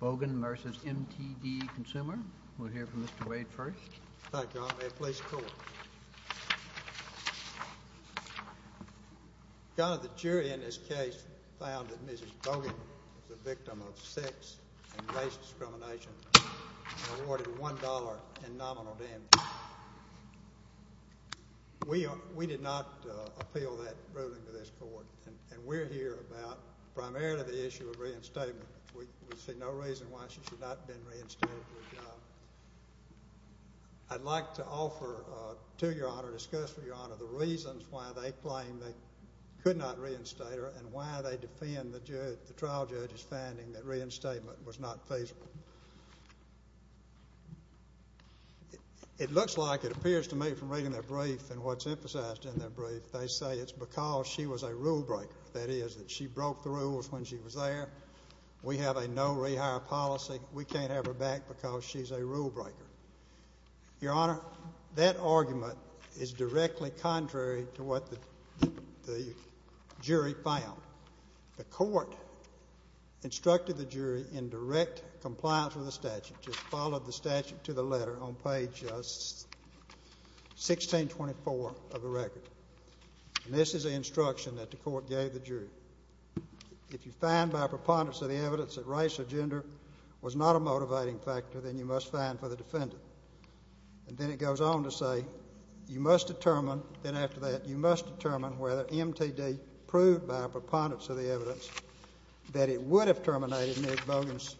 Bogan v. MTD Consumer. We'll hear from Mr. Wade first. Thank you, Your Honor. May it please the Court. Your Honor, the jury in this case found that Mrs. Bogan is a victim of sex and race discrimination and awarded $1 in nominal damages. We did not appeal that ruling to this Court, and we're here about primarily the issue of reinstatement. We see no reason why she should not have been reinstated for a job. I'd like to offer to Your Honor, discuss with Your Honor, the reasons why they claim they could not reinstate her and why they defend the trial judge's finding that reinstatement was not feasible. It looks like it appears to me from reading their brief and what's emphasized in their brief, they say it's because she was a rule-breaker. That is, that she broke the rules when she was there. We have a no-rehire policy. We can't have her back because she's a rule-breaker. Your Honor, that argument is directly contrary to what the jury found. The Court instructed the jury in direct compliance with the statute, just followed the statute to the letter on page 1624 of the record. And this is the instruction that the Court gave the jury. If you find by preponderance of the evidence that race or gender was not a motivating factor, then you must find for the defendant. And then it goes on to say you must determine, then after that, you must determine whether MTD proved by preponderance of the evidence that it would have terminated Meg Bogan's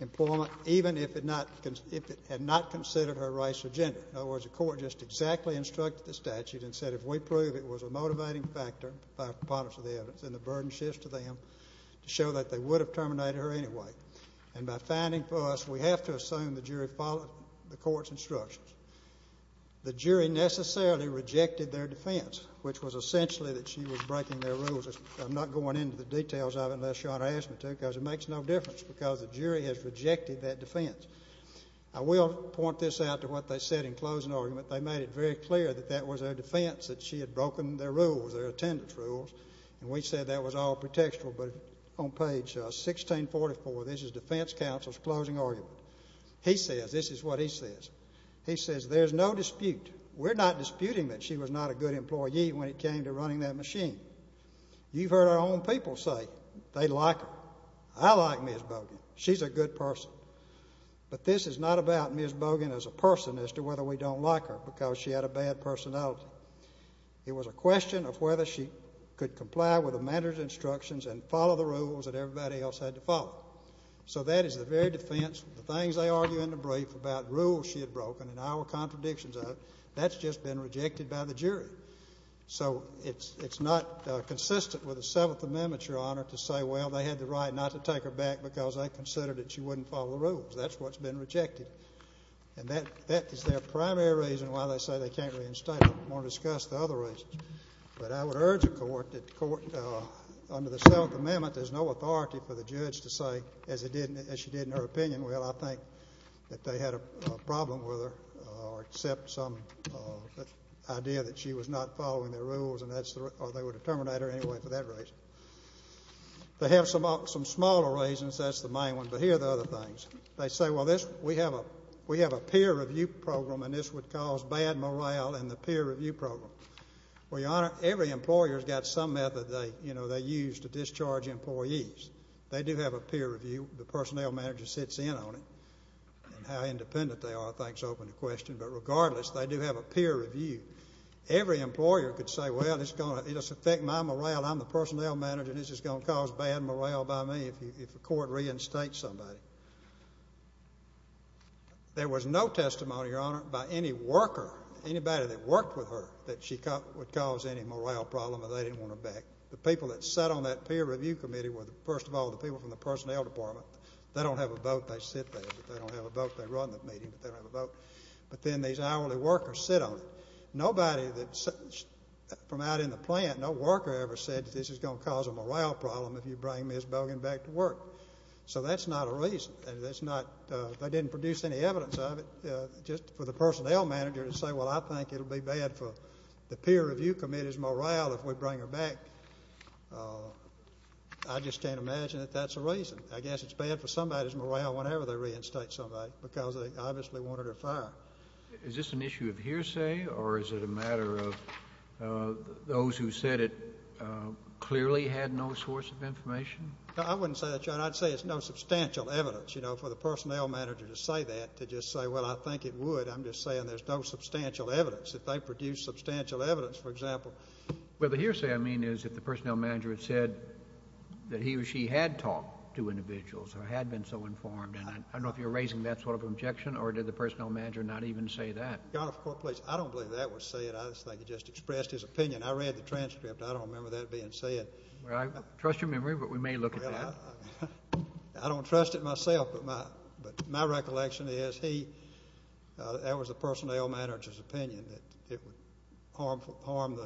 employment even if it had not considered her race or gender. In other words, the Court just exactly instructed the statute and said if we prove it was a motivating factor by preponderance of the evidence, then the burden shifts to them to show that they would have terminated her anyway. And by finding for us, we have to assume the jury followed the Court's instructions. The jury necessarily rejected their defense, which was essentially that she was breaking their rules. I'm not going into the details of it unless your Honor asks me to because it makes no difference because the jury has rejected that defense. I will point this out to what they said in closing argument. They made it very clear that that was their defense, that she had broken their rules, their attendance rules. And we said that was all pretextual. But on page 1644, this is defense counsel's closing argument. He says, this is what he says. He says, there's no dispute. We're not disputing that she was not a good employee when it came to running that machine. You've heard our own people say they like her. I like Ms. Bogan. She's a good person. But this is not about Ms. Bogan as a person as to whether we don't like her because she had a bad personality. It was a question of whether she could comply with the manager's instructions and follow the rules that everybody else had to follow. So that is the very defense. The things they argue in the brief about rules she had broken and our contradictions of it, that's just been rejected by the jury. So it's not consistent with the Seventh Amendment, Your Honor, to say, well, they had the right not to take her back because they considered that she wouldn't follow the rules. That's what's been rejected. And that is their primary reason why they say they can't reinstate her. I'm going to discuss the other reasons. But I would urge the Court that the Court, under the Seventh Amendment, there's no authority for the judge to say, as she did in her opinion, well, I think that they had a problem with her or accept some idea that she was not following the rules or they would terminate her anyway for that reason. They have some smaller reasons. That's the main one. But here are the other things. They say, well, we have a peer review program, and this would cause bad morale in the peer review program. Well, Your Honor, every employer has got some method they use to discharge employees. They do have a peer review. The personnel manager sits in on it. And how independent they are, I think, is open to question. But regardless, they do have a peer review. Every employer could say, well, it's going to affect my morale. I'm the personnel manager, and this is going to cause bad morale by me if the Court reinstates somebody. There was no testimony, Your Honor, by any worker, anybody that worked with her, that she would cause any morale problem or they didn't want her back. The people that sat on that peer review committee were, first of all, the people from the personnel department. They don't have a vote. They sit there, but they don't have a vote. They run the meeting, but they don't have a vote. But then these hourly workers sit on it. Nobody from out in the plant, no worker ever said this is going to cause a morale problem if you bring Ms. Bogan back to work. So that's not a reason. They didn't produce any evidence of it just for the personnel manager to say, well, I think it will be bad for the peer review committee's morale if we bring her back. I just can't imagine that that's a reason. I guess it's bad for somebody's morale whenever they reinstate somebody because they obviously want her to fire. Is this an issue of hearsay or is it a matter of those who said it clearly had no source of information? I wouldn't say that, Your Honor. I'd say it's no substantial evidence, you know, for the personnel manager to say that, to just say, well, I think it would. I'm just saying there's no substantial evidence. If they produced substantial evidence, for example. Well, the hearsay I mean is if the personnel manager had said that he or she had talked to individuals or had been so informed. And I don't know if you're raising that sort of objection or did the personnel manager not even say that? Your Honor, I don't believe that was said. I just think he just expressed his opinion. I read the transcript. I don't remember that being said. Well, I trust your memory, but we may look at that. I don't trust it myself, but my recollection is he, that was the personnel manager's opinion that it would harm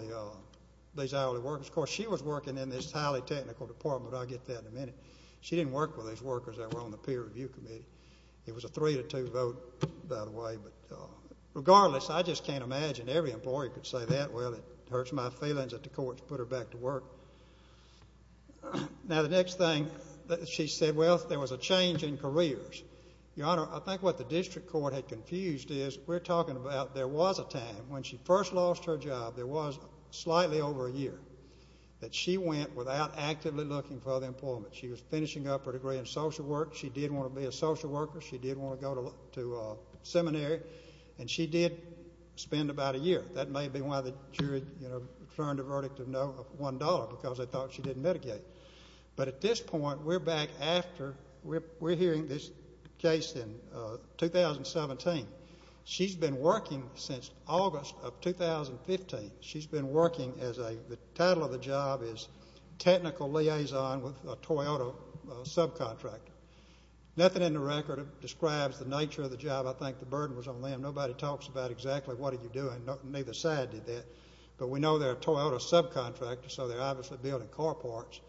these hourly workers. Of course, she was working in this highly technical department. I'll get to that in a minute. She didn't work with these workers that were on the peer review committee. It was a three to two vote, by the way. But regardless, I just can't imagine every employee could say that. Well, it hurts my feelings that the courts put her back to work. Now, the next thing that she said, well, there was a change in careers. Your Honor, I think what the district court had confused is we're talking about there was a time when she first lost her job. There was slightly over a year that she went without actively looking for other employment. She was finishing up her degree in social work. She did want to be a social worker. She did want to go to seminary, and she did spend about a year. That may be why the jury, you know, turned a verdict of no, of $1, because they thought she didn't mitigate. But at this point, we're back after. We're hearing this case in 2017. She's been working since August of 2015. She's been working as a the title of the job is technical liaison with a Toyota subcontractor. Nothing in the record describes the nature of the job. I think the burden was on them. Nobody talks about exactly what are you doing. Neither side did that. But we know they're a Toyota subcontractor, so they're obviously building car parts.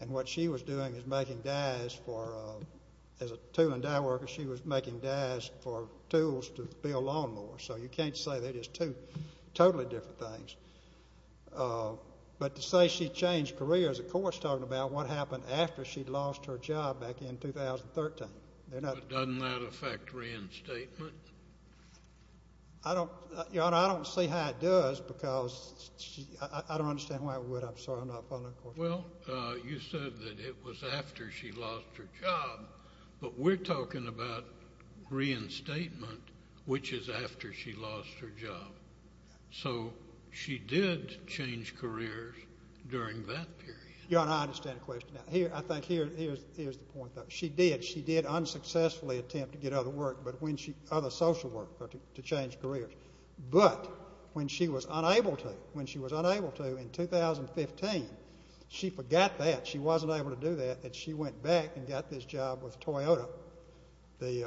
And what she was doing is making dies for as a tool and die worker. She was making dies for tools to build lawnmowers. So you can't say they're just two totally different things. But to say she changed careers, the court's talking about what happened after she lost her job back in 2013. Doesn't that affect reinstatement? Your Honor, I don't see how it does, because I don't understand why it would. I'm sorry. I'm not following. Well, you said that it was after she lost her job. But we're talking about reinstatement, which is after she lost her job. So she did change careers during that period. Your Honor, I understand the question. I think here's the point, though. She did. She did unsuccessfully attempt to get other work, other social work to change careers. But when she was unable to, when she was unable to, in 2015, she forgot that. She wasn't able to do that. And she went back and got this job with Toyota, the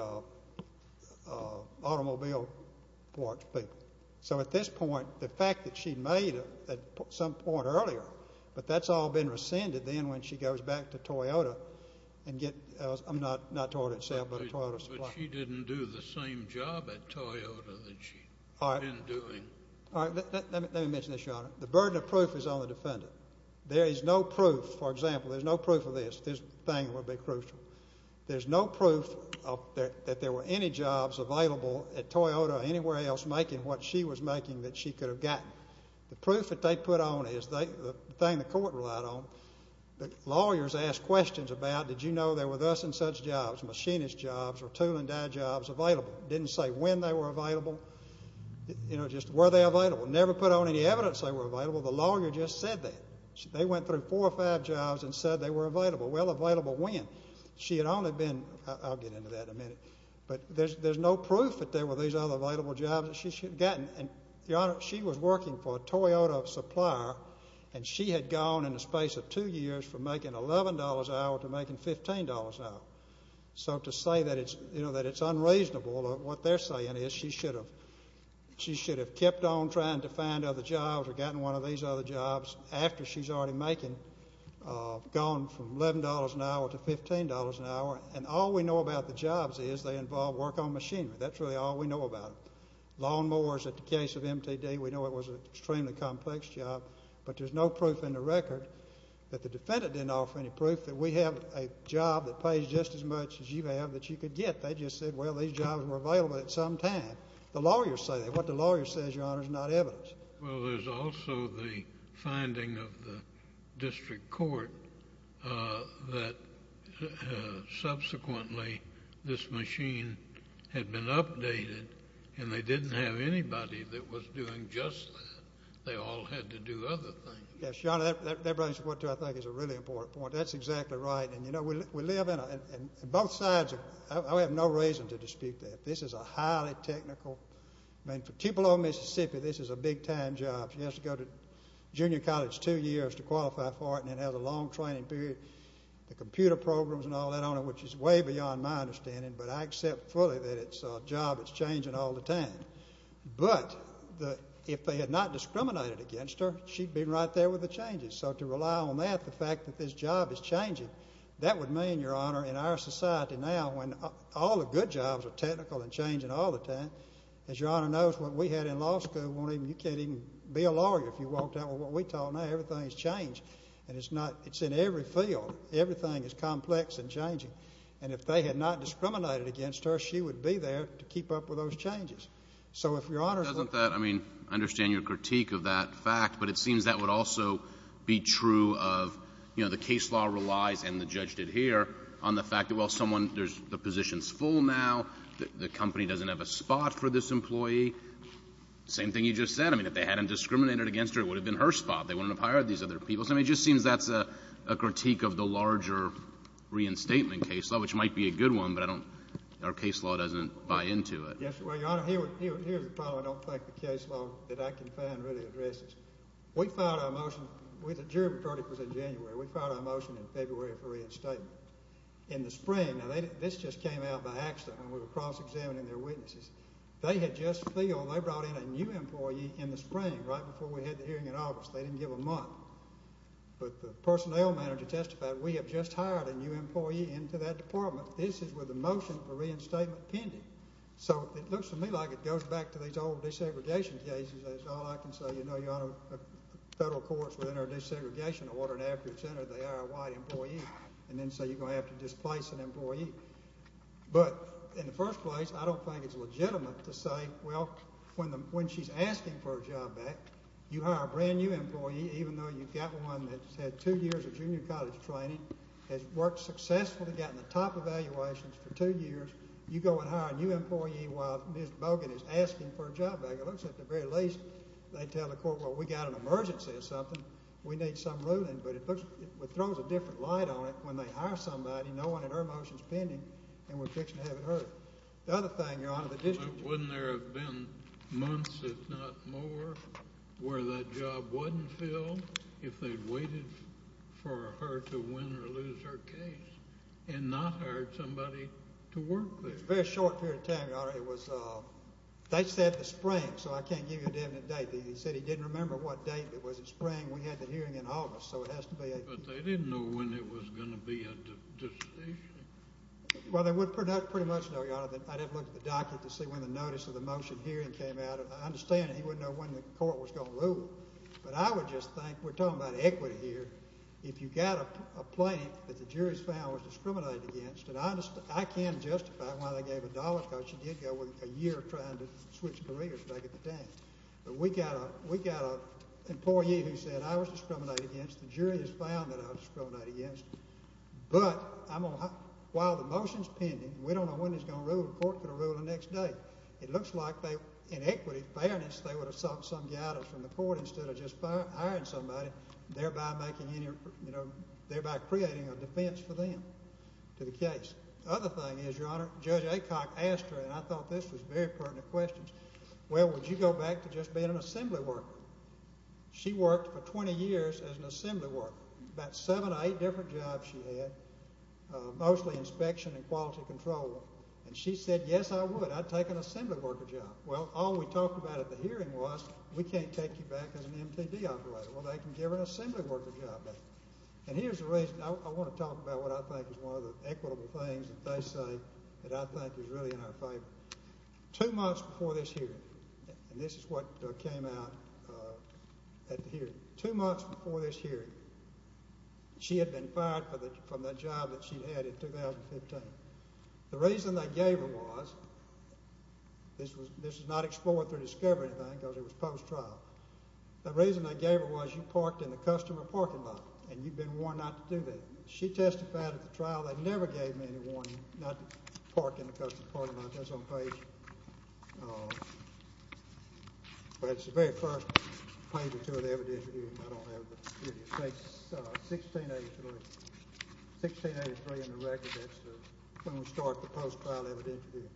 automobile parts people. So at this point, the fact that she made it at some point earlier, but that's all been rescinded then when she goes back to Toyota and gets, not Toyota itself, but a Toyota supplier. She didn't do the same job at Toyota that she had been doing. All right. Let me mention this, Your Honor. The burden of proof is on the defendant. There is no proof. For example, there's no proof of this. This thing would be crucial. There's no proof that there were any jobs available at Toyota or anywhere else making what she was making that she could have gotten. The proof that they put on is the thing the court relied on. Lawyers ask questions about, did you know there were thus and such jobs, machinist jobs or tool-and-dye jobs available? It didn't say when they were available. You know, just were they available? Never put on any evidence they were available. The lawyer just said that. They went through four or five jobs and said they were available. Well, available when? She had only been, I'll get into that in a minute, but there's no proof that there were these other available jobs that she should have gotten. And, Your Honor, she was working for a Toyota supplier, and she had gone in the space of two years from making $11 an hour to making $15 an hour. So to say that it's unreasonable, what they're saying is she should have kept on trying to find other jobs or gotten one of these other jobs after she's already making, gone from $11 an hour to $15 an hour. And all we know about the jobs is they involve work on machinery. That's really all we know about it. We know it was an extremely complex job, but there's no proof in the record that the defendant didn't offer any proof that we have a job that pays just as much as you have that you could get. They just said, well, these jobs were available at some time. The lawyers say that. What the lawyer says, Your Honor, is not evidence. Well, there's also the finding of the district court that subsequently this machine had been updated and they didn't have anybody that was doing just that. They all had to do other things. Yes, Your Honor, that brings to what I think is a really important point. That's exactly right. And, you know, we live in a ñ and both sides, I have no reason to dispute that. This is a highly technical ñ I mean, for Tupelo, Mississippi, this is a big-time job. She has to go to junior college two years to qualify for it and then has a long training period. The computer programs and all that on it, which is way beyond my understanding, but I accept fully that it's a job that's changing all the time. But if they had not discriminated against her, she'd be right there with the changes. So to rely on that, the fact that this job is changing, that would mean, Your Honor, in our society now, when all the good jobs are technical and changing all the time, as Your Honor knows what we had in law school, you can't even be a lawyer if you walked out with what we taught. Now everything's changed, and it's in every field. Everything is complex and changing. And if they had not discriminated against her, she would be there to keep up with those changes. So if Your Honoró Doesn't that ñ I mean, I understand your critique of that fact, but it seems that would also be true of, you know, the case law relies, and the judge did here, on the fact that, well, someone ñ the position's full now. The company doesn't have a spot for this employee. Same thing you just said. I mean, if they hadn't discriminated against her, it would have been her spot. They wouldn't have hired these other people. I mean, it just seems that's a critique of the larger reinstatement case law, which might be a good one, but I don'tóour case law doesn't buy into it. Yes, well, Your Honor, here's the problem. I don't think the case law that I can find really addresses. We filed our motionóthe jury majority was in January. We filed our motion in February for reinstatement. In the springónow this just came out by accident when we were cross-examining their witnesses. They had just filledóthey brought in a new employee in the spring, right before we had the hearing in August. They didn't give a month. But the personnel manager testified, we have just hired a new employee into that department. This is with the motion for reinstatement pending. So it looks to me like it goes back to these old desegregation cases. That's all I can say. You know, Your Honor, federal courts, within our desegregation order and after it's entered, they hire a white employee, and then say you're going to have to displace an employee. But in the first place, I don't think it's legitimate to say, well, when she's asking for her job back, you hire a brand-new employee, even though you've got one that's had two years of junior college training, has worked successfully, gotten the top evaluations for two years. You go and hire a new employee while Ms. Bogan is asking for her job back. It looks at the very least, they tell the court, well, we've got an emergency or something. We need some ruling. But it throws a different light on it when they hire somebody, no one in her motion is pending, and we're fixing to have it heard. The other thing, Your Honor, the districtó where that job wasn't filled, if they'd waited for her to win or lose her case and not hired somebody to work there. It's a very short period of time, Your Honor. It wasóthey said the spring, so I can't give you a definite date. He said he didn't remember what date. It was the spring. We had the hearing in August, so it has to beó But they didn't know when it was going to be a decision. Well, they would pretty much know, Your Honor. I'd have to look at the docket to see when the notice of the motion hearing came out. But I understand that he wouldn't know when the court was going to rule it. But I would just thinkówe're talking about equity hereó if you've got a plaintiff that the jury has found was discriminated againstó and I can't justify why they gave her dollars because she did go a year trying to switch careers back in the day. But we've got an employee who said I was discriminated against. The jury has found that I was discriminated against. But while the motion is pending, we don't know when it's going to rule. The court could have ruled the next day. It looks like theyóin equity, fairness, they would have sought some guidance from the court instead of just hiring somebody, thereby creating a defense for them to the case. The other thing is, Your Honor, Judge Aycock asked heróand I thought this was very pertinent questionsó well, would you go back to just being an assembly worker? She worked for 20 years as an assembly worker. About seven or eight different jobs she had, mostly inspection and quality control. And she said, yes, I would. I'd take an assembly worker job. Well, all we talked about at the hearing was we can't take you back as an MTD operator. Well, they can give her an assembly worker job back. And here's the reason. I want to talk about what I think is one of the equitable things that they say that I think is really in our favor. Two months before this hearingóand this is what came out at the hearingó two months before this hearing, she had been fired from the job that she'd had in 2015. The reason they gave her wasóthis was not explored through discovery because it was post-trialó the reason they gave her was you parked in the customer parking lot and you'd been warned not to do that. She testified at the trial that never gave me any warning not to park in the customer parking lot. That's on pageówell, it's the very first page or two of the evidence review. It's 1683. 1683 in the record. That's when we start the post-trial evidence review.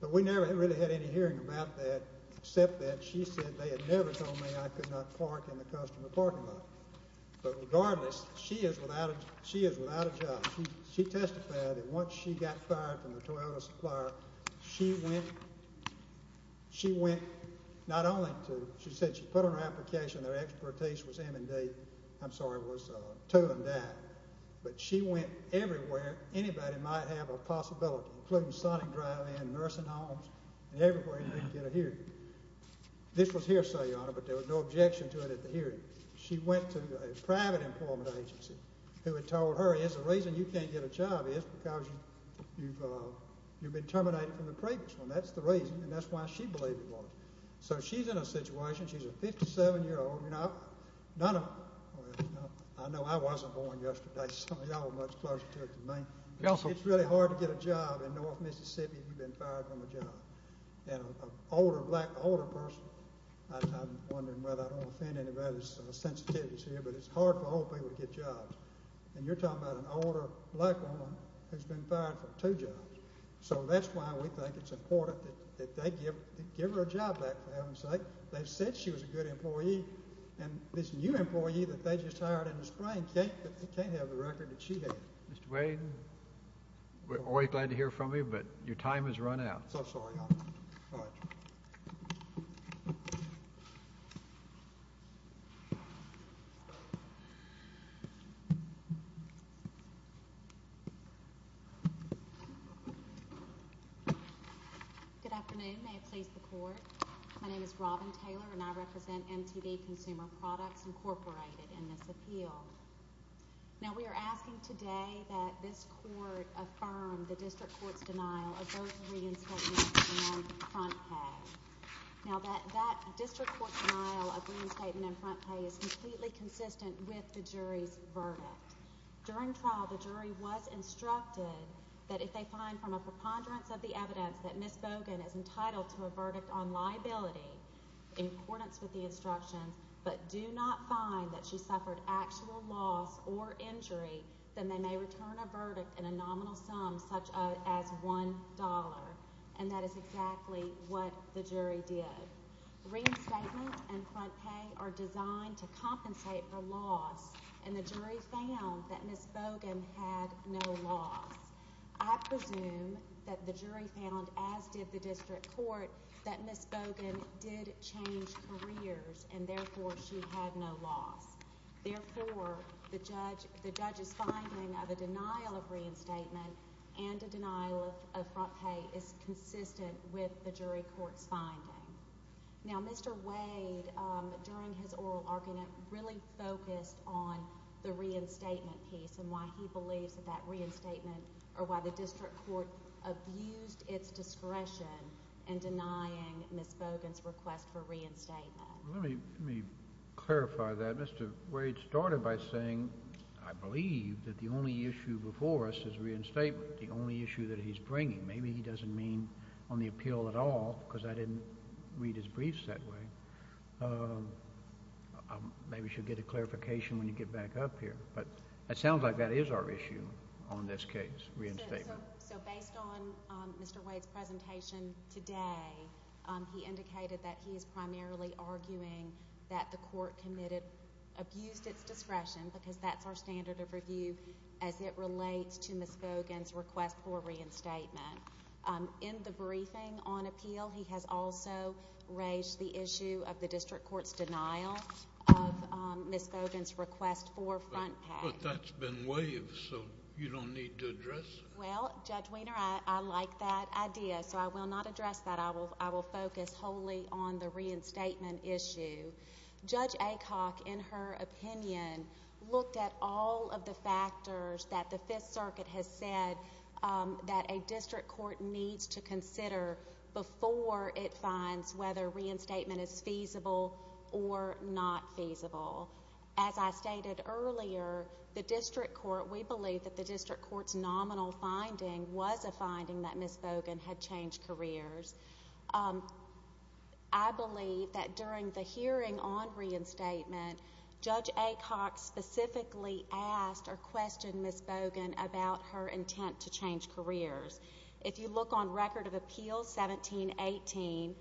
But we never really had any hearing about that except that she said they had never told me I could not park in the customer parking lot. But regardless, she is without a job. She testified that once she got fired from the Toyota supplier, she went not only toó I'm sorry, was to and that, but she went everywhere anybody might have a possibility, including Sonic Drive-In, nursing homes, and everywhere you can get a hearing. This was hearsay, Your Honor, but there was no objection to it at the hearing. She went to a private employment agency who had told her, here's the reason you can't get a job is because you've been terminated from the previous one. That's the reason, and that's why she believed it was. So she's in a situationóshe's a 57-year-oldóI know I wasn't born yesterday, so y'all are much closer to it than me. It's really hard to get a job in North Mississippi if you've been fired from a job. And an older black, older personóI'm wondering whether I don't offend anybody's sensitivities here, but it's hard for old people to get jobs. And you're talking about an older black woman who's been fired from two jobs. So that's why we think it's important that they give her a job back, for heaven's sake. They said she was a good employee, and this new employee that they just hired in the spring can't have the record that she had. Mr. Wayne, we're always glad to hear from you, but your time has run out. So sorry, Your Honor. Good afternoon. May it please the Court. My name is Robin Taylor, and I represent MTV Consumer Products Incorporated in this appeal. Now we are asking today that this Court affirm the district court's denial of both reinstatement and front pay. Now that district court denial of reinstatement and front pay is completely consistent with the jury's verdict. During trial, the jury was instructed that if they find from a preponderance of the evidence that Ms. Bogan is entitled to a verdict on liability in accordance with the instructions, but do not find that she suffered actual loss or injury, then they may return a verdict in a nominal sum such as $1. And that is exactly what the jury did. Reinstatement and front pay are designed to compensate for loss, and the jury found that Ms. Bogan had no loss. I presume that the jury found, as did the district court, that Ms. Bogan did change careers, and therefore she had no loss. Therefore, the judge's finding of a denial of reinstatement and a denial of front pay is consistent with the jury court's finding. Now, Mr. Wade, during his oral argument, really focused on the reinstatement piece and why he believes that that reinstatement or why the district court abused its discretion in denying Ms. Bogan's request for reinstatement. Let me clarify that. Mr. Wade started by saying, I believe that the only issue before us is reinstatement, the only issue that he's bringing. Maybe he doesn't mean on the appeal at all because I didn't read his briefs that way. Maybe we should get a clarification when you get back up here. But it sounds like that is our issue on this case, reinstatement. So based on Mr. Wade's presentation today, he indicated that he is primarily arguing that the court abused its discretion because that's our standard of review as it relates to Ms. Bogan's request for reinstatement. In the briefing on appeal, he has also raised the issue of the district court's denial of Ms. Bogan's request for front pay. But that's been waived, so you don't need to address it. Well, Judge Weiner, I like that idea, so I will not address that. I will focus wholly on the reinstatement issue. Judge Acock, in her opinion, looked at all of the factors that the Fifth Circuit has said that a district court needs to consider before it finds whether reinstatement is feasible or not feasible. As I stated earlier, the district court, we believe that the district court's nominal finding was a finding that Ms. Bogan had changed careers. I believe that during the hearing on reinstatement, Judge Acock specifically asked or questioned Ms. Bogan about her intent to change careers. If you look on Record of Appeals 1718,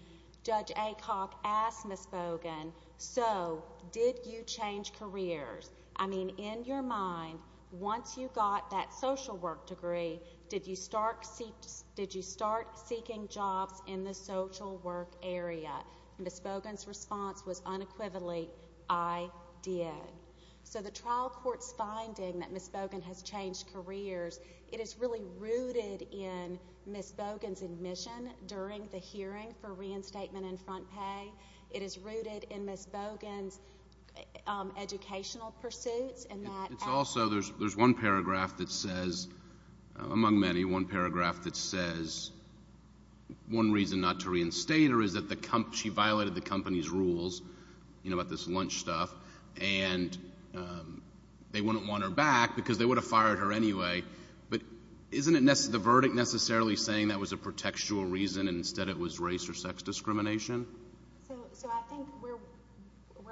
Judge Acock asked Ms. Bogan, So, did you change careers? I mean, in your mind, once you got that social work degree, did you start seeking jobs in the social work area? Ms. Bogan's response was unequivocally, I did. So the trial court's finding that Ms. Bogan has changed careers, it is really rooted in Ms. Bogan's admission during the hearing for reinstatement and front pay. It is rooted in Ms. Bogan's educational pursuits. It's also, there's one paragraph that says, among many, one paragraph that says, one reason not to reinstate her is that she violated the company's rules, you know, about this lunch stuff, and they wouldn't want her back because they would have fired her anyway. But isn't the verdict necessarily saying that was a pretextual reason and instead it was race or sex discrimination? So I think where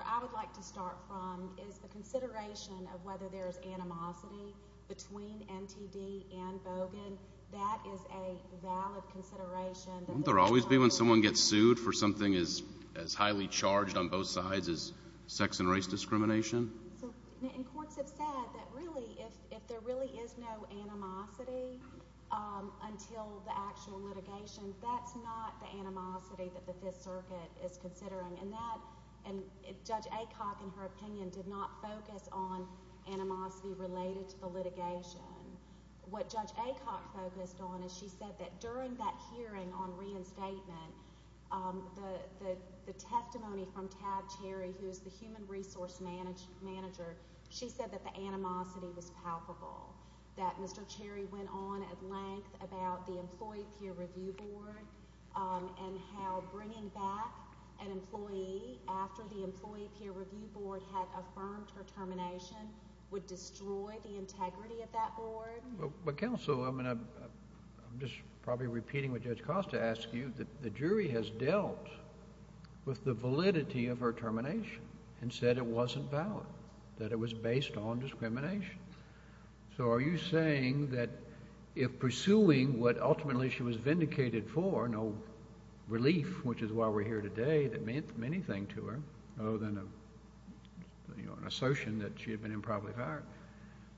I would like to start from is the consideration of whether there is animosity between NTD and Bogan. That is a valid consideration. Wouldn't there always be when someone gets sued for something as highly charged on both sides as sex and race discrimination? And courts have said that really if there really is no animosity until the actual litigation, that's not the animosity that the Fifth Circuit is considering. And Judge Acock, in her opinion, did not focus on animosity related to the litigation. What Judge Acock focused on is she said that during that hearing on reinstatement, the testimony from Tad Cherry, who is the human resource manager, she said that the animosity was palpable, that Mr. Cherry went on at length about the employee peer review board and how bringing back an employee after the employee peer review board had affirmed her termination would destroy the integrity of that board. But counsel, I'm just probably repeating what Judge Costa asked you. The jury has dealt with the validity of her termination and said it wasn't valid, that it was based on discrimination. So are you saying that if pursuing what ultimately she was vindicated for, no relief, which is why we're here today, that meant anything to her other than an assertion that she had been improperly fired,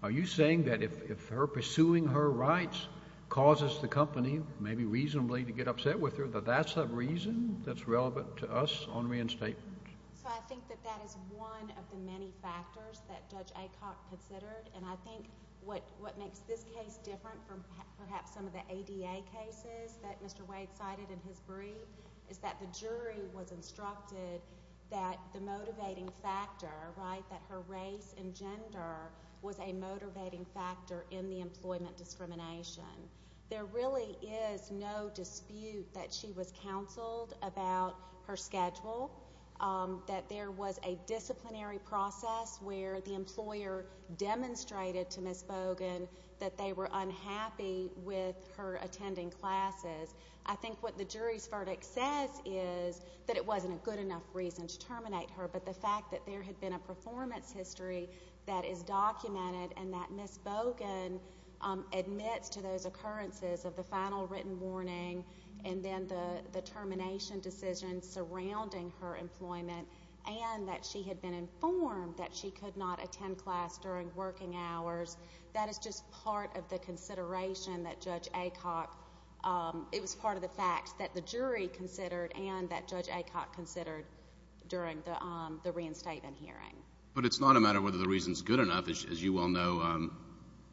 are you saying that if her pursuing her rights causes the company maybe reasonably to get upset with her, that that's a reason that's relevant to us on reinstatement? So I think that that is one of the many factors that Judge Acock considered, and I think what makes this case different from perhaps some of the ADA cases that Mr. Wade cited in his brief is that the jury was instructed that the motivating factor, right, that her race and gender was a motivating factor in the employment discrimination. There really is no dispute that she was counseled about her schedule, that there was a disciplinary process where the employer demonstrated to Ms. Bogan that they were unhappy with her attending classes. I think what the jury's verdict says is that it wasn't a good enough reason to terminate her, but the fact that there had been a performance history that is documented and that Ms. Bogan admits to those occurrences of the final written warning and then the termination decision surrounding her employment and that she had been informed that she could not attend class during working hours, that is just part of the consideration that Judge Acock, it was part of the facts that the jury considered and that Judge Acock considered during the reinstatement hearing. But it's not a matter of whether the reason's good enough. As you well know,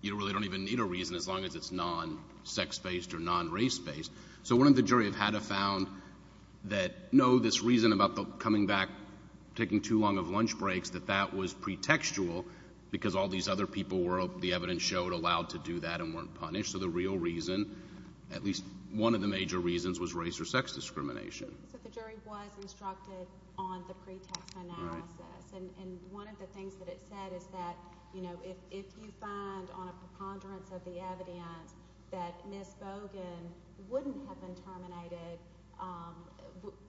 you really don't even need a reason as long as it's non-sex-based or non-race-based. So wouldn't the jury have had a found that, no, this reason about coming back, taking too long of lunch breaks, that that was pretextual because all these other people were, the evidence showed, allowed to do that and weren't punished? So the real reason, at least one of the major reasons, was race or sex discrimination. So the jury was instructed on the pretext analysis. And one of the things that it said is that, you know, if you find on a preponderance of the evidence that Ms. Bogan wouldn't have been terminated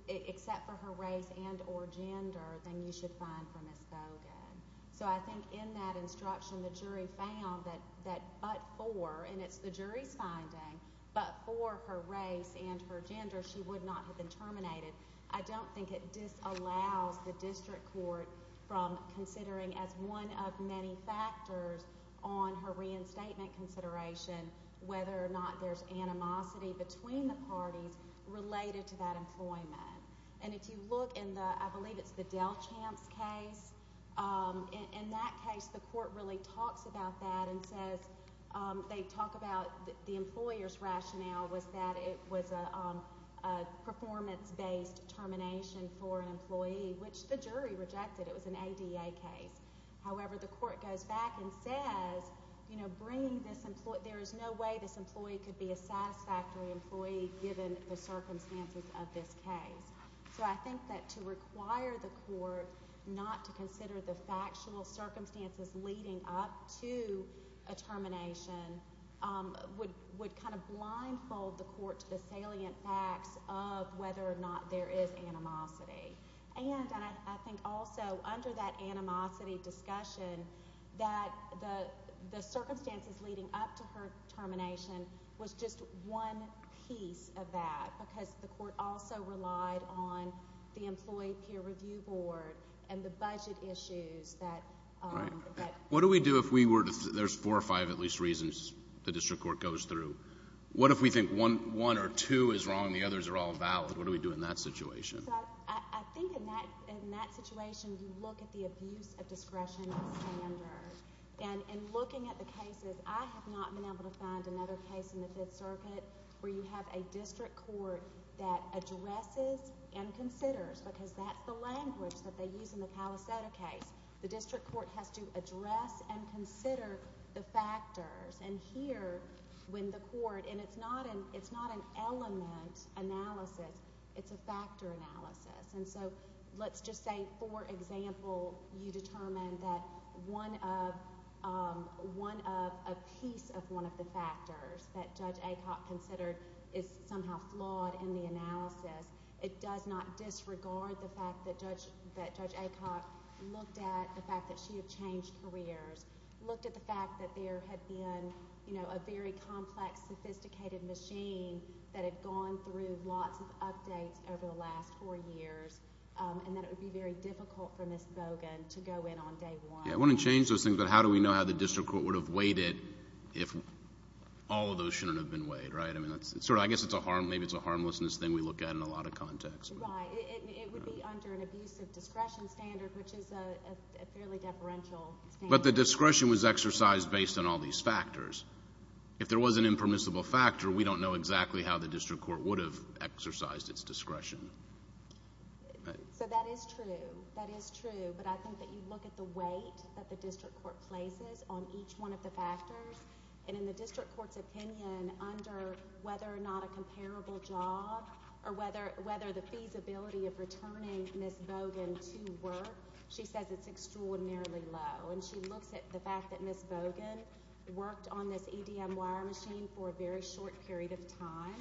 except for her race and or gender, then you should find for Ms. Bogan. So I think in that instruction, the jury found that but for, and it's the jury's finding, but for her race and her gender, she would not have been terminated. I don't think it disallows the district court from considering, as one of many factors on her reinstatement consideration, whether or not there's animosity between the parties related to that employment. And if you look in the, I believe it's the Dell Champs case, in that case the court really talks about that and says, they talk about the employer's rationale was that it was a performance-based termination for an employee, which the jury rejected. It was an ADA case. However, the court goes back and says, you know, bringing this employee, there is no way this employee could be a satisfactory employee given the circumstances of this case. So I think that to require the court not to consider the factual circumstances leading up to a termination would kind of blindfold the court to the salient facts of whether or not there is animosity. And I think also under that animosity discussion, that the circumstances leading up to her termination was just one piece of that because the court also relied on the employee peer review board and the budget issues that... What do we do if we were to... there's four or five at least reasons the district court goes through. What if we think one or two is wrong and the others are all valid? What do we do in that situation? I think in that situation, you look at the abuse of discretionary standards. And in looking at the cases, I have not been able to find another case in the Fifth Circuit where you have a district court that addresses and considers because that's the language that they use in the Calisetta case. The district court has to address and consider the factors. And here, when the court... and it's not an element analysis. It's a factor analysis. And so, let's just say, for example, you determine that one of a piece of one of the factors that Judge Acock considered is somehow flawed in the analysis. It does not disregard the fact that Judge Acock looked at the fact that she had changed careers, looked at the fact that there had been a very complex, sophisticated machine that had gone through lots of updates over the last four years, and that it would be very difficult for Ms. Bogan to go in on day one. I want to change those things, but how do we know how the district court would have weighed it if all of those shouldn't have been weighed, right? I mean, I guess it's a harmlessness thing we look at in a lot of contexts. Right. It would be under an abuse of discretion standard, which is a fairly deferential standard. But the discretion was exercised based on all these factors. If there was an impermissible factor, we don't know exactly how the district court would have exercised its discretion. So that is true. That is true. But I think that you look at the weight that the district court places on each one of the factors. And in the district court's opinion, under whether or not a comparable job or whether the feasibility of returning Ms. Bogan to work, she says it's extraordinarily low. And she looks at the fact that Ms. Bogan worked on this EDM wire machine for a very short period of time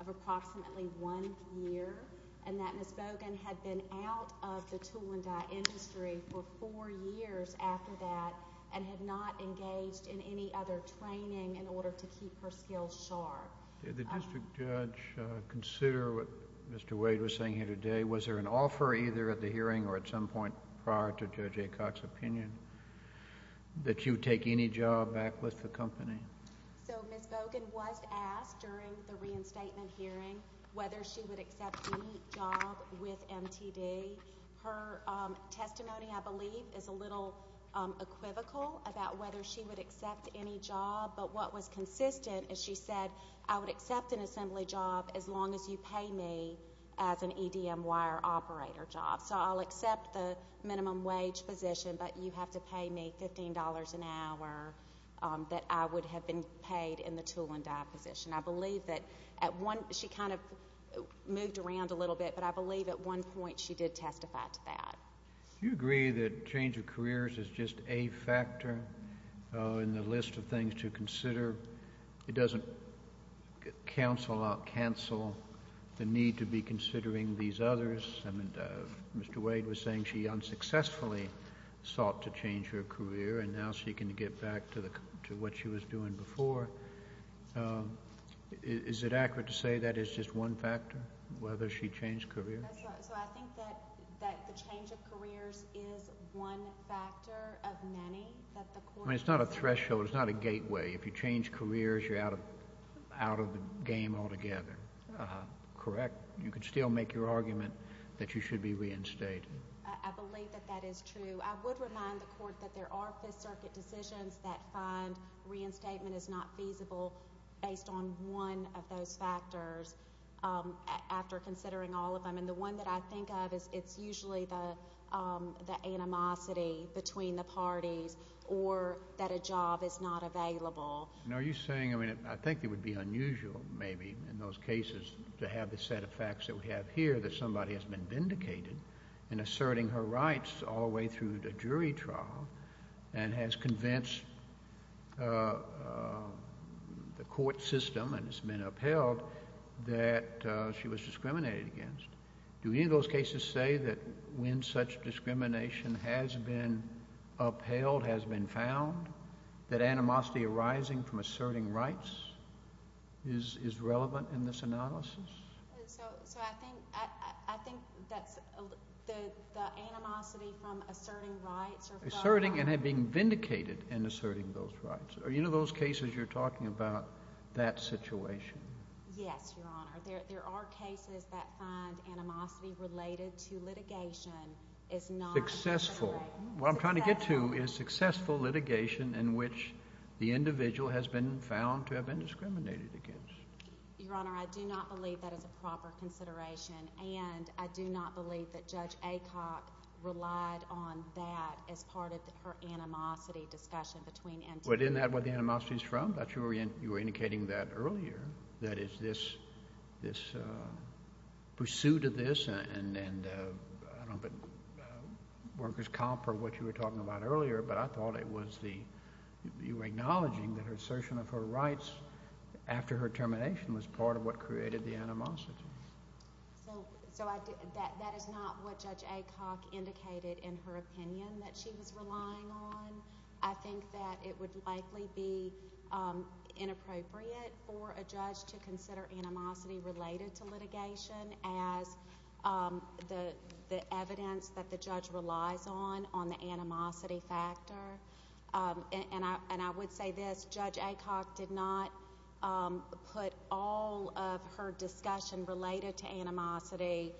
of approximately one year, and that Ms. Bogan had been out of the tool and die industry for four years after that and had not engaged in any other training in order to keep her skills sharp. Did the district judge consider what Mr. Wade was saying here today? Was there an offer either at the hearing or at some point prior to Judge Aycock's opinion that you take any job back with the company? So Ms. Bogan was asked during the reinstatement hearing whether she would accept any job with MTD. Her testimony, I believe, is a little equivocal about whether she would accept any job. But what was consistent is she said, I would accept an assembly job as long as you pay me as an EDM wire operator job. So I'll accept the minimum wage position, but you have to pay me $15 an hour that I would have been paid in the tool and die position. I believe that at one she kind of moved around a little bit, but I believe at one point she did testify to that. Do you agree that change of careers is just a factor in the list of things to consider? It doesn't cancel out cancel the need to be considering these others. Mr. Wade was saying she unsuccessfully sought to change her career, and now she can get back to what she was doing before. Is it accurate to say that is just one factor, whether she changed careers? So I think that the change of careers is one factor of many. I mean, it's not a threshold. It's not a gateway. If you change careers, you're out of the game altogether. Correct? You could still make your argument that you should be reinstated. I believe that that is true. I would remind the Court that there are Fifth Circuit decisions that find reinstatement is not feasible based on one of those factors after considering all of them. And the one that I think of is it's usually the animosity between the parties or that a job is not available. Are you saying, I mean, I think it would be unusual maybe in those cases to have the set of facts that we have here that somebody has been vindicated in asserting her rights all the way through the jury trial and has convinced the court system and has been upheld that she was discriminated against. Do any of those cases say that when such discrimination has been upheld, has been found, that animosity arising from asserting rights is relevant in this analysis? So I think that's the animosity from asserting rights. Asserting and being vindicated in asserting those rights. Are any of those cases you're talking about that situation? Yes, Your Honor. There are cases that find animosity related to litigation is not... Successful. What I'm trying to get to is successful litigation in which the individual has been found to have been discriminated against. Your Honor, I do not believe that is a proper consideration and I do not believe that Judge Acock relied on that as part of her animosity discussion between entities. But isn't that where the animosity is from? You were indicating that earlier, that it's this pursuit of this and I don't think workers' comp or what you were talking about earlier, but I thought you were acknowledging that her assertion of her rights after her termination was part of what created the animosity. So that is not what Judge Acock indicated in her opinion that she was relying on. I think that it would likely be inappropriate for a judge to consider animosity related to litigation as the evidence that the judge relies on on the animosity factor. And I would say this, Judge Acock did not put all of her discussion related to animosity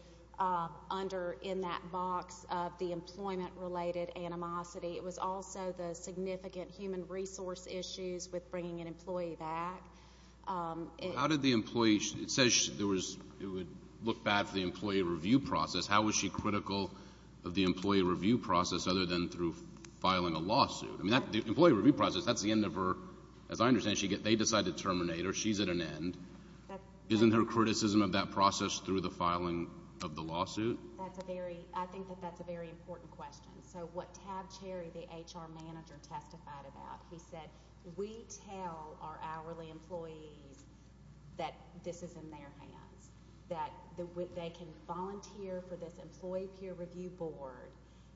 under in that box of the employment-related animosity. It was also the significant human resource issues with bringing an employee back. How did the employee... It says it would look bad for the employee review process. How was she critical of the employee review process other than through filing a lawsuit? I mean, the employee review process, that's the end of her... As I understand it, they decide to terminate her. She's at an end. Isn't her criticism of that process through the filing of the lawsuit? I think that that's a very important question. So what Tab Cherry, the HR manager, testified about, he said we tell our hourly employees that this is in their hands, that they can volunteer for this employee peer review board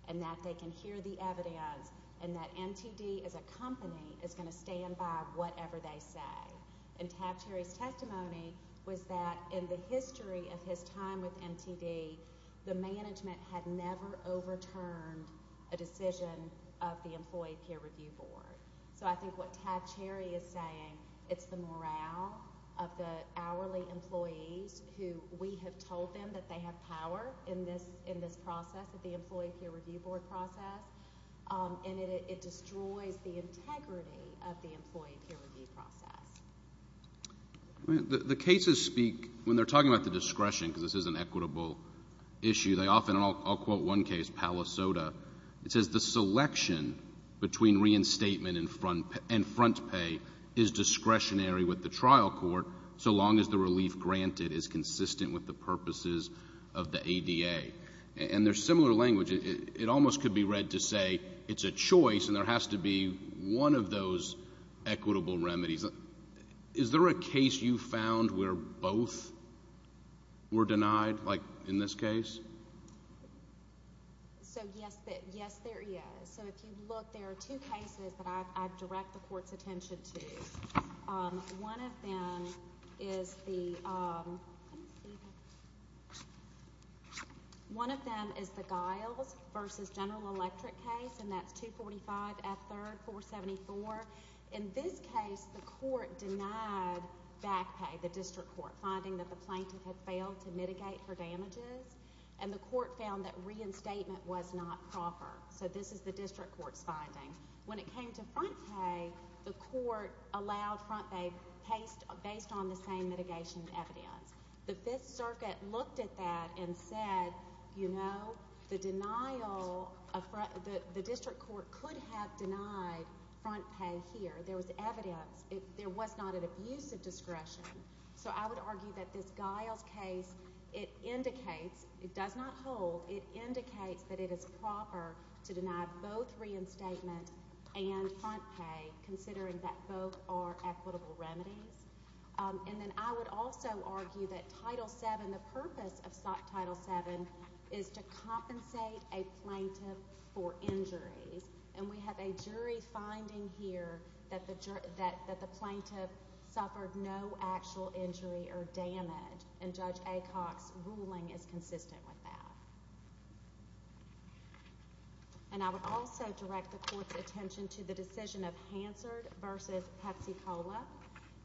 and that they can hear the evidence and that MTD as a company is going to stand by whatever they say. And Tab Cherry's testimony was that in the history of his time with MTD, the management had never overturned a decision of the employee peer review board. So I think what Tab Cherry is saying, it's the morale of the hourly employees who we have told them that they have power in this process, the employee peer review board process. And it destroys the integrity of the employee peer review process. The cases speak, when they're talking about the discretion, because this is an equitable issue, they often, and I'll quote one case, Palisoda, it says the selection between reinstatement and front pay is discretionary with the trial court so long as the relief granted is consistent with the purposes of the ADA. And there's similar language. It almost could be read to say it's a choice and there has to be one of those equitable remedies. Is there a case you found where both were denied, like in this case? So yes, there is. So if you look, there are two cases that I direct the court's attention to. One of them is the... One of them is the Giles v. General Electric case, and that's 245 F. 3rd 474. In this case, the court denied back pay, the district court, finding that the plaintiff had failed to mitigate her damages, and the court found that reinstatement was not proper. So this is the district court's finding. When it came to front pay, the court allowed front pay based on the same mitigation evidence. The Fifth Circuit looked at that and said, you know, the district court could have denied front pay here. There was evidence. There was not an abuse of discretion. So I would argue that this Giles case, it indicates, it does not hold, it indicates that it is proper to deny both reinstatement and front pay, considering that both are equitable remedies. And then I would also argue that Title VII, the purpose of Title VII, is to compensate a plaintiff for injuries, and we have a jury finding here that the plaintiff suffered no actual injury or damage, and Judge Acock's ruling is consistent with that. And I would also direct the court's attention to the decision of Hansard v. Pepsi-Cola.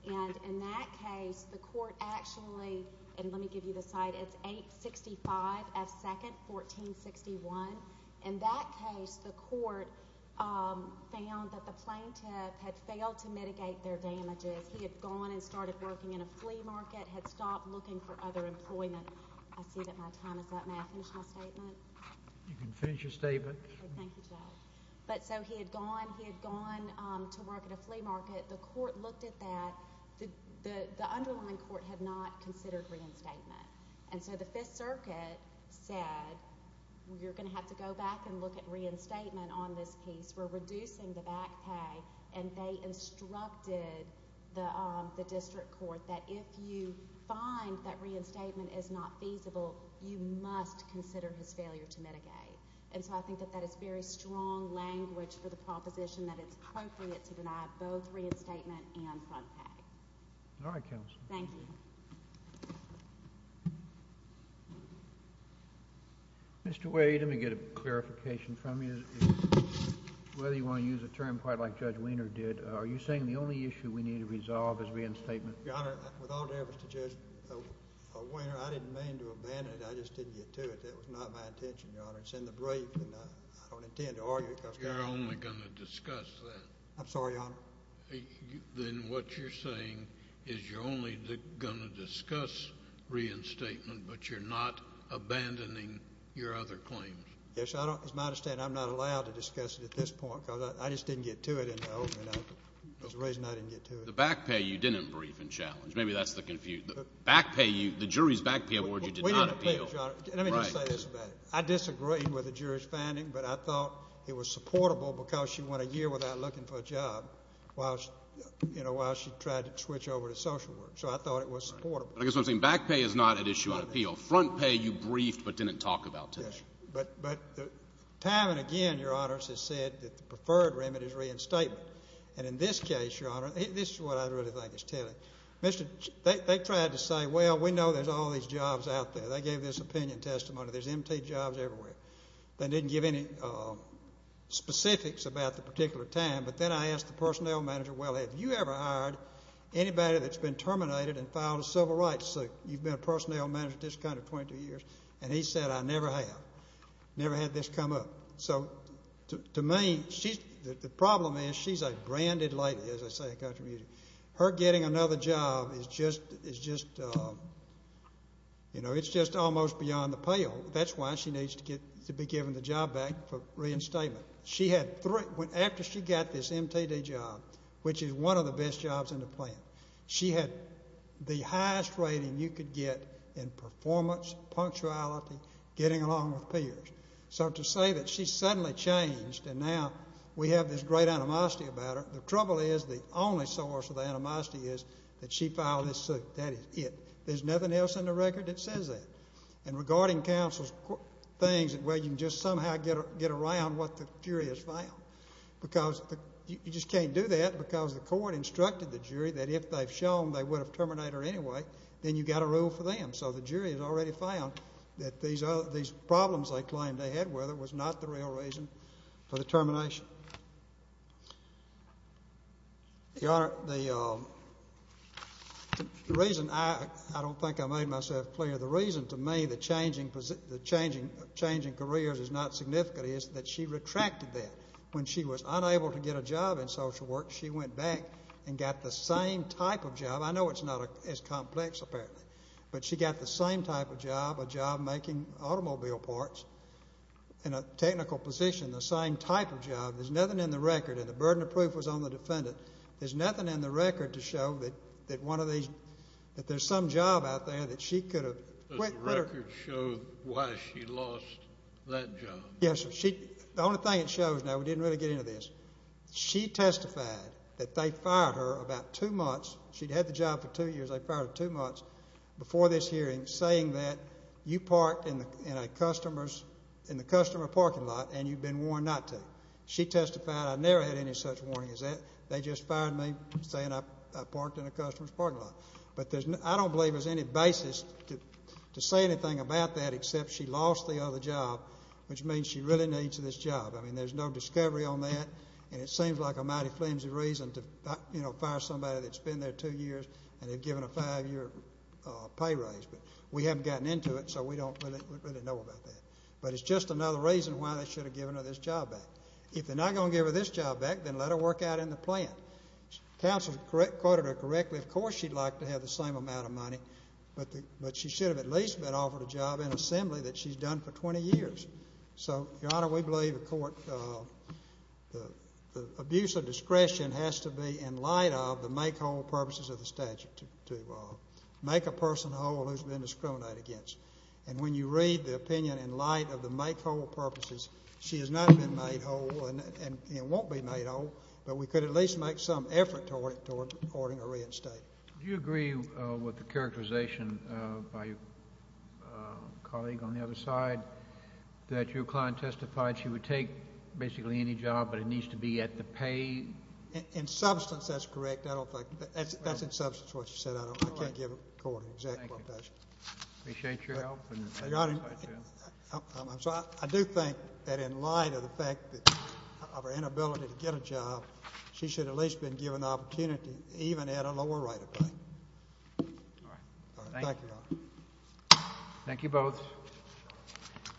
And in that case, the court actually—and let me give you the site. It's 865 F. 2nd 1461. In that case, the court found that the plaintiff had failed to mitigate their damages. He had gone and started working in a flea market, had stopped looking for other employment. I see that my time is up. May I finish my statement? You can finish your statement. Thank you, Judge. But so he had gone. He had gone to work at a flea market. The court looked at that. The underlying court had not considered reinstatement. And so the Fifth Circuit said, you're going to have to go back and look at reinstatement on this piece. We're reducing the back pay. And they instructed the district court that if you find that reinstatement is not feasible, you must consider his failure to mitigate. And so I think that that is very strong language for the proposition that it's appropriate to deny both reinstatement and front pay. All right, counsel. Thank you. Mr. Wade, let me get a clarification from you. Whether you want to use a term quite like Judge Wiener did, are you saying the only issue we need to resolve is reinstatement? Your Honor, with all due respect to Judge Wiener, I didn't mean to abandon it. I just didn't get to it. That was not my intention, Your Honor. It's in the brief, and I don't intend to argue it. You're only going to discuss that. I'm sorry, Your Honor. Then what you're saying is you're only going to discuss reinstatement, but you're not abandoning your other claims. Yes. It's my understanding I'm not allowed to discuss it at this point because I just didn't get to it in the opening. There's a reason I didn't get to it. The back pay you didn't brief and challenge. Maybe that's the confusion. The back pay you, the jury's back pay award you did not appeal. Let me just say this about it. I disagreed with the jury's finding, but I thought it was supportable because she went a year without looking for a job while she tried to switch over to social work. So I thought it was supportable. I guess what I'm saying, back pay is not an issue on appeal. Front pay you briefed but didn't talk about today. Yes. But time and again, Your Honors, has said that the preferred remedy is reinstatement. And in this case, Your Honor, this is what I really think is telling. They tried to say, well, we know there's all these jobs out there. They gave this opinion testimony. There's empty jobs everywhere. They didn't give any specifics about the particular time. But then I asked the personnel manager, well, have you ever hired anybody that's been terminated and filed a civil rights suit? You've been a personnel manager at this country 22 years. And he said, I never have. Never had this come up. So to me, the problem is she's a branded lady, as I say, at Country Music. Her getting another job is just, you know, it's just almost beyond the pale. That's why she needs to be given the job back for reinstatement. After she got this MTD job, which is one of the best jobs in the plant, she had the highest rating you could get in performance, punctuality, getting along with peers. So to say that she suddenly changed and now we have this great animosity about her, the trouble is the only source of animosity is that she filed this suit. That is it. There's nothing else in the record that says that. And regarding counsel's things, well, you can just somehow get around what the jury has found. You just can't do that because the court instructed the jury that if they've shown they would have terminated her anyway, then you've got to rule for them. So the jury has already found that these problems they claimed they had with her was not the real reason for the termination. Your Honor, the reason I don't think I made myself clear, the reason to me that changing careers is not significant is that she retracted that. When she was unable to get a job in social work, she went back and got the same type of job. I know it's not as complex, apparently. But she got the same type of job, a job making automobile parts in a technical position, the same type of job. There's nothing in the record. And the burden of proof was on the defendant. There's nothing in the record to show that there's some job out there that she could have quit. Does the record show why she lost that job? Yes. The only thing it shows now, we didn't really get into this, she testified that they fired her about two months. She'd had the job for two years. They fired her two months before this hearing saying that you parked in a customer's parking lot and you'd been warned not to. She testified, I never had any such warning as that. They just fired me saying I parked in a customer's parking lot. I don't believe there's any basis to say anything about that except she lost the other job, which means she really needs this job. I mean, there's no discovery on that. And it seems like a mighty flimsy reason to, you know, fire somebody that's been there two years and they've given a five-year pay raise. But we haven't gotten into it, so we don't really know about that. But it's just another reason why they should have given her this job back. If they're not going to give her this job back, then let her work out in the plant. Counsel quoted her correctly. Of course she'd like to have the same amount of money, but she should have at least been offered a job in assembly that she's done for 20 years. So, Your Honor, we believe the court, the abuse of discretion has to be in light of the make-whole purposes of the statute, to make a person whole who's been discriminated against. And when you read the opinion in light of the make-whole purposes, she has not been made whole and won't be made whole, but we could at least make some effort toward her reinstatement. Do you agree with the characterization by a colleague on the other side that your client testified she would take basically any job, but it needs to be at the pay? In substance, that's correct. I don't think. That's in substance what you said. I can't give a court an exact quotation. Appreciate your help. Your Honor, I'm sorry. I do think that in light of the fact of her inability to get a job, she should at least have been given the opportunity even at a lower rate of pay. All right. Thank you. Thank you both.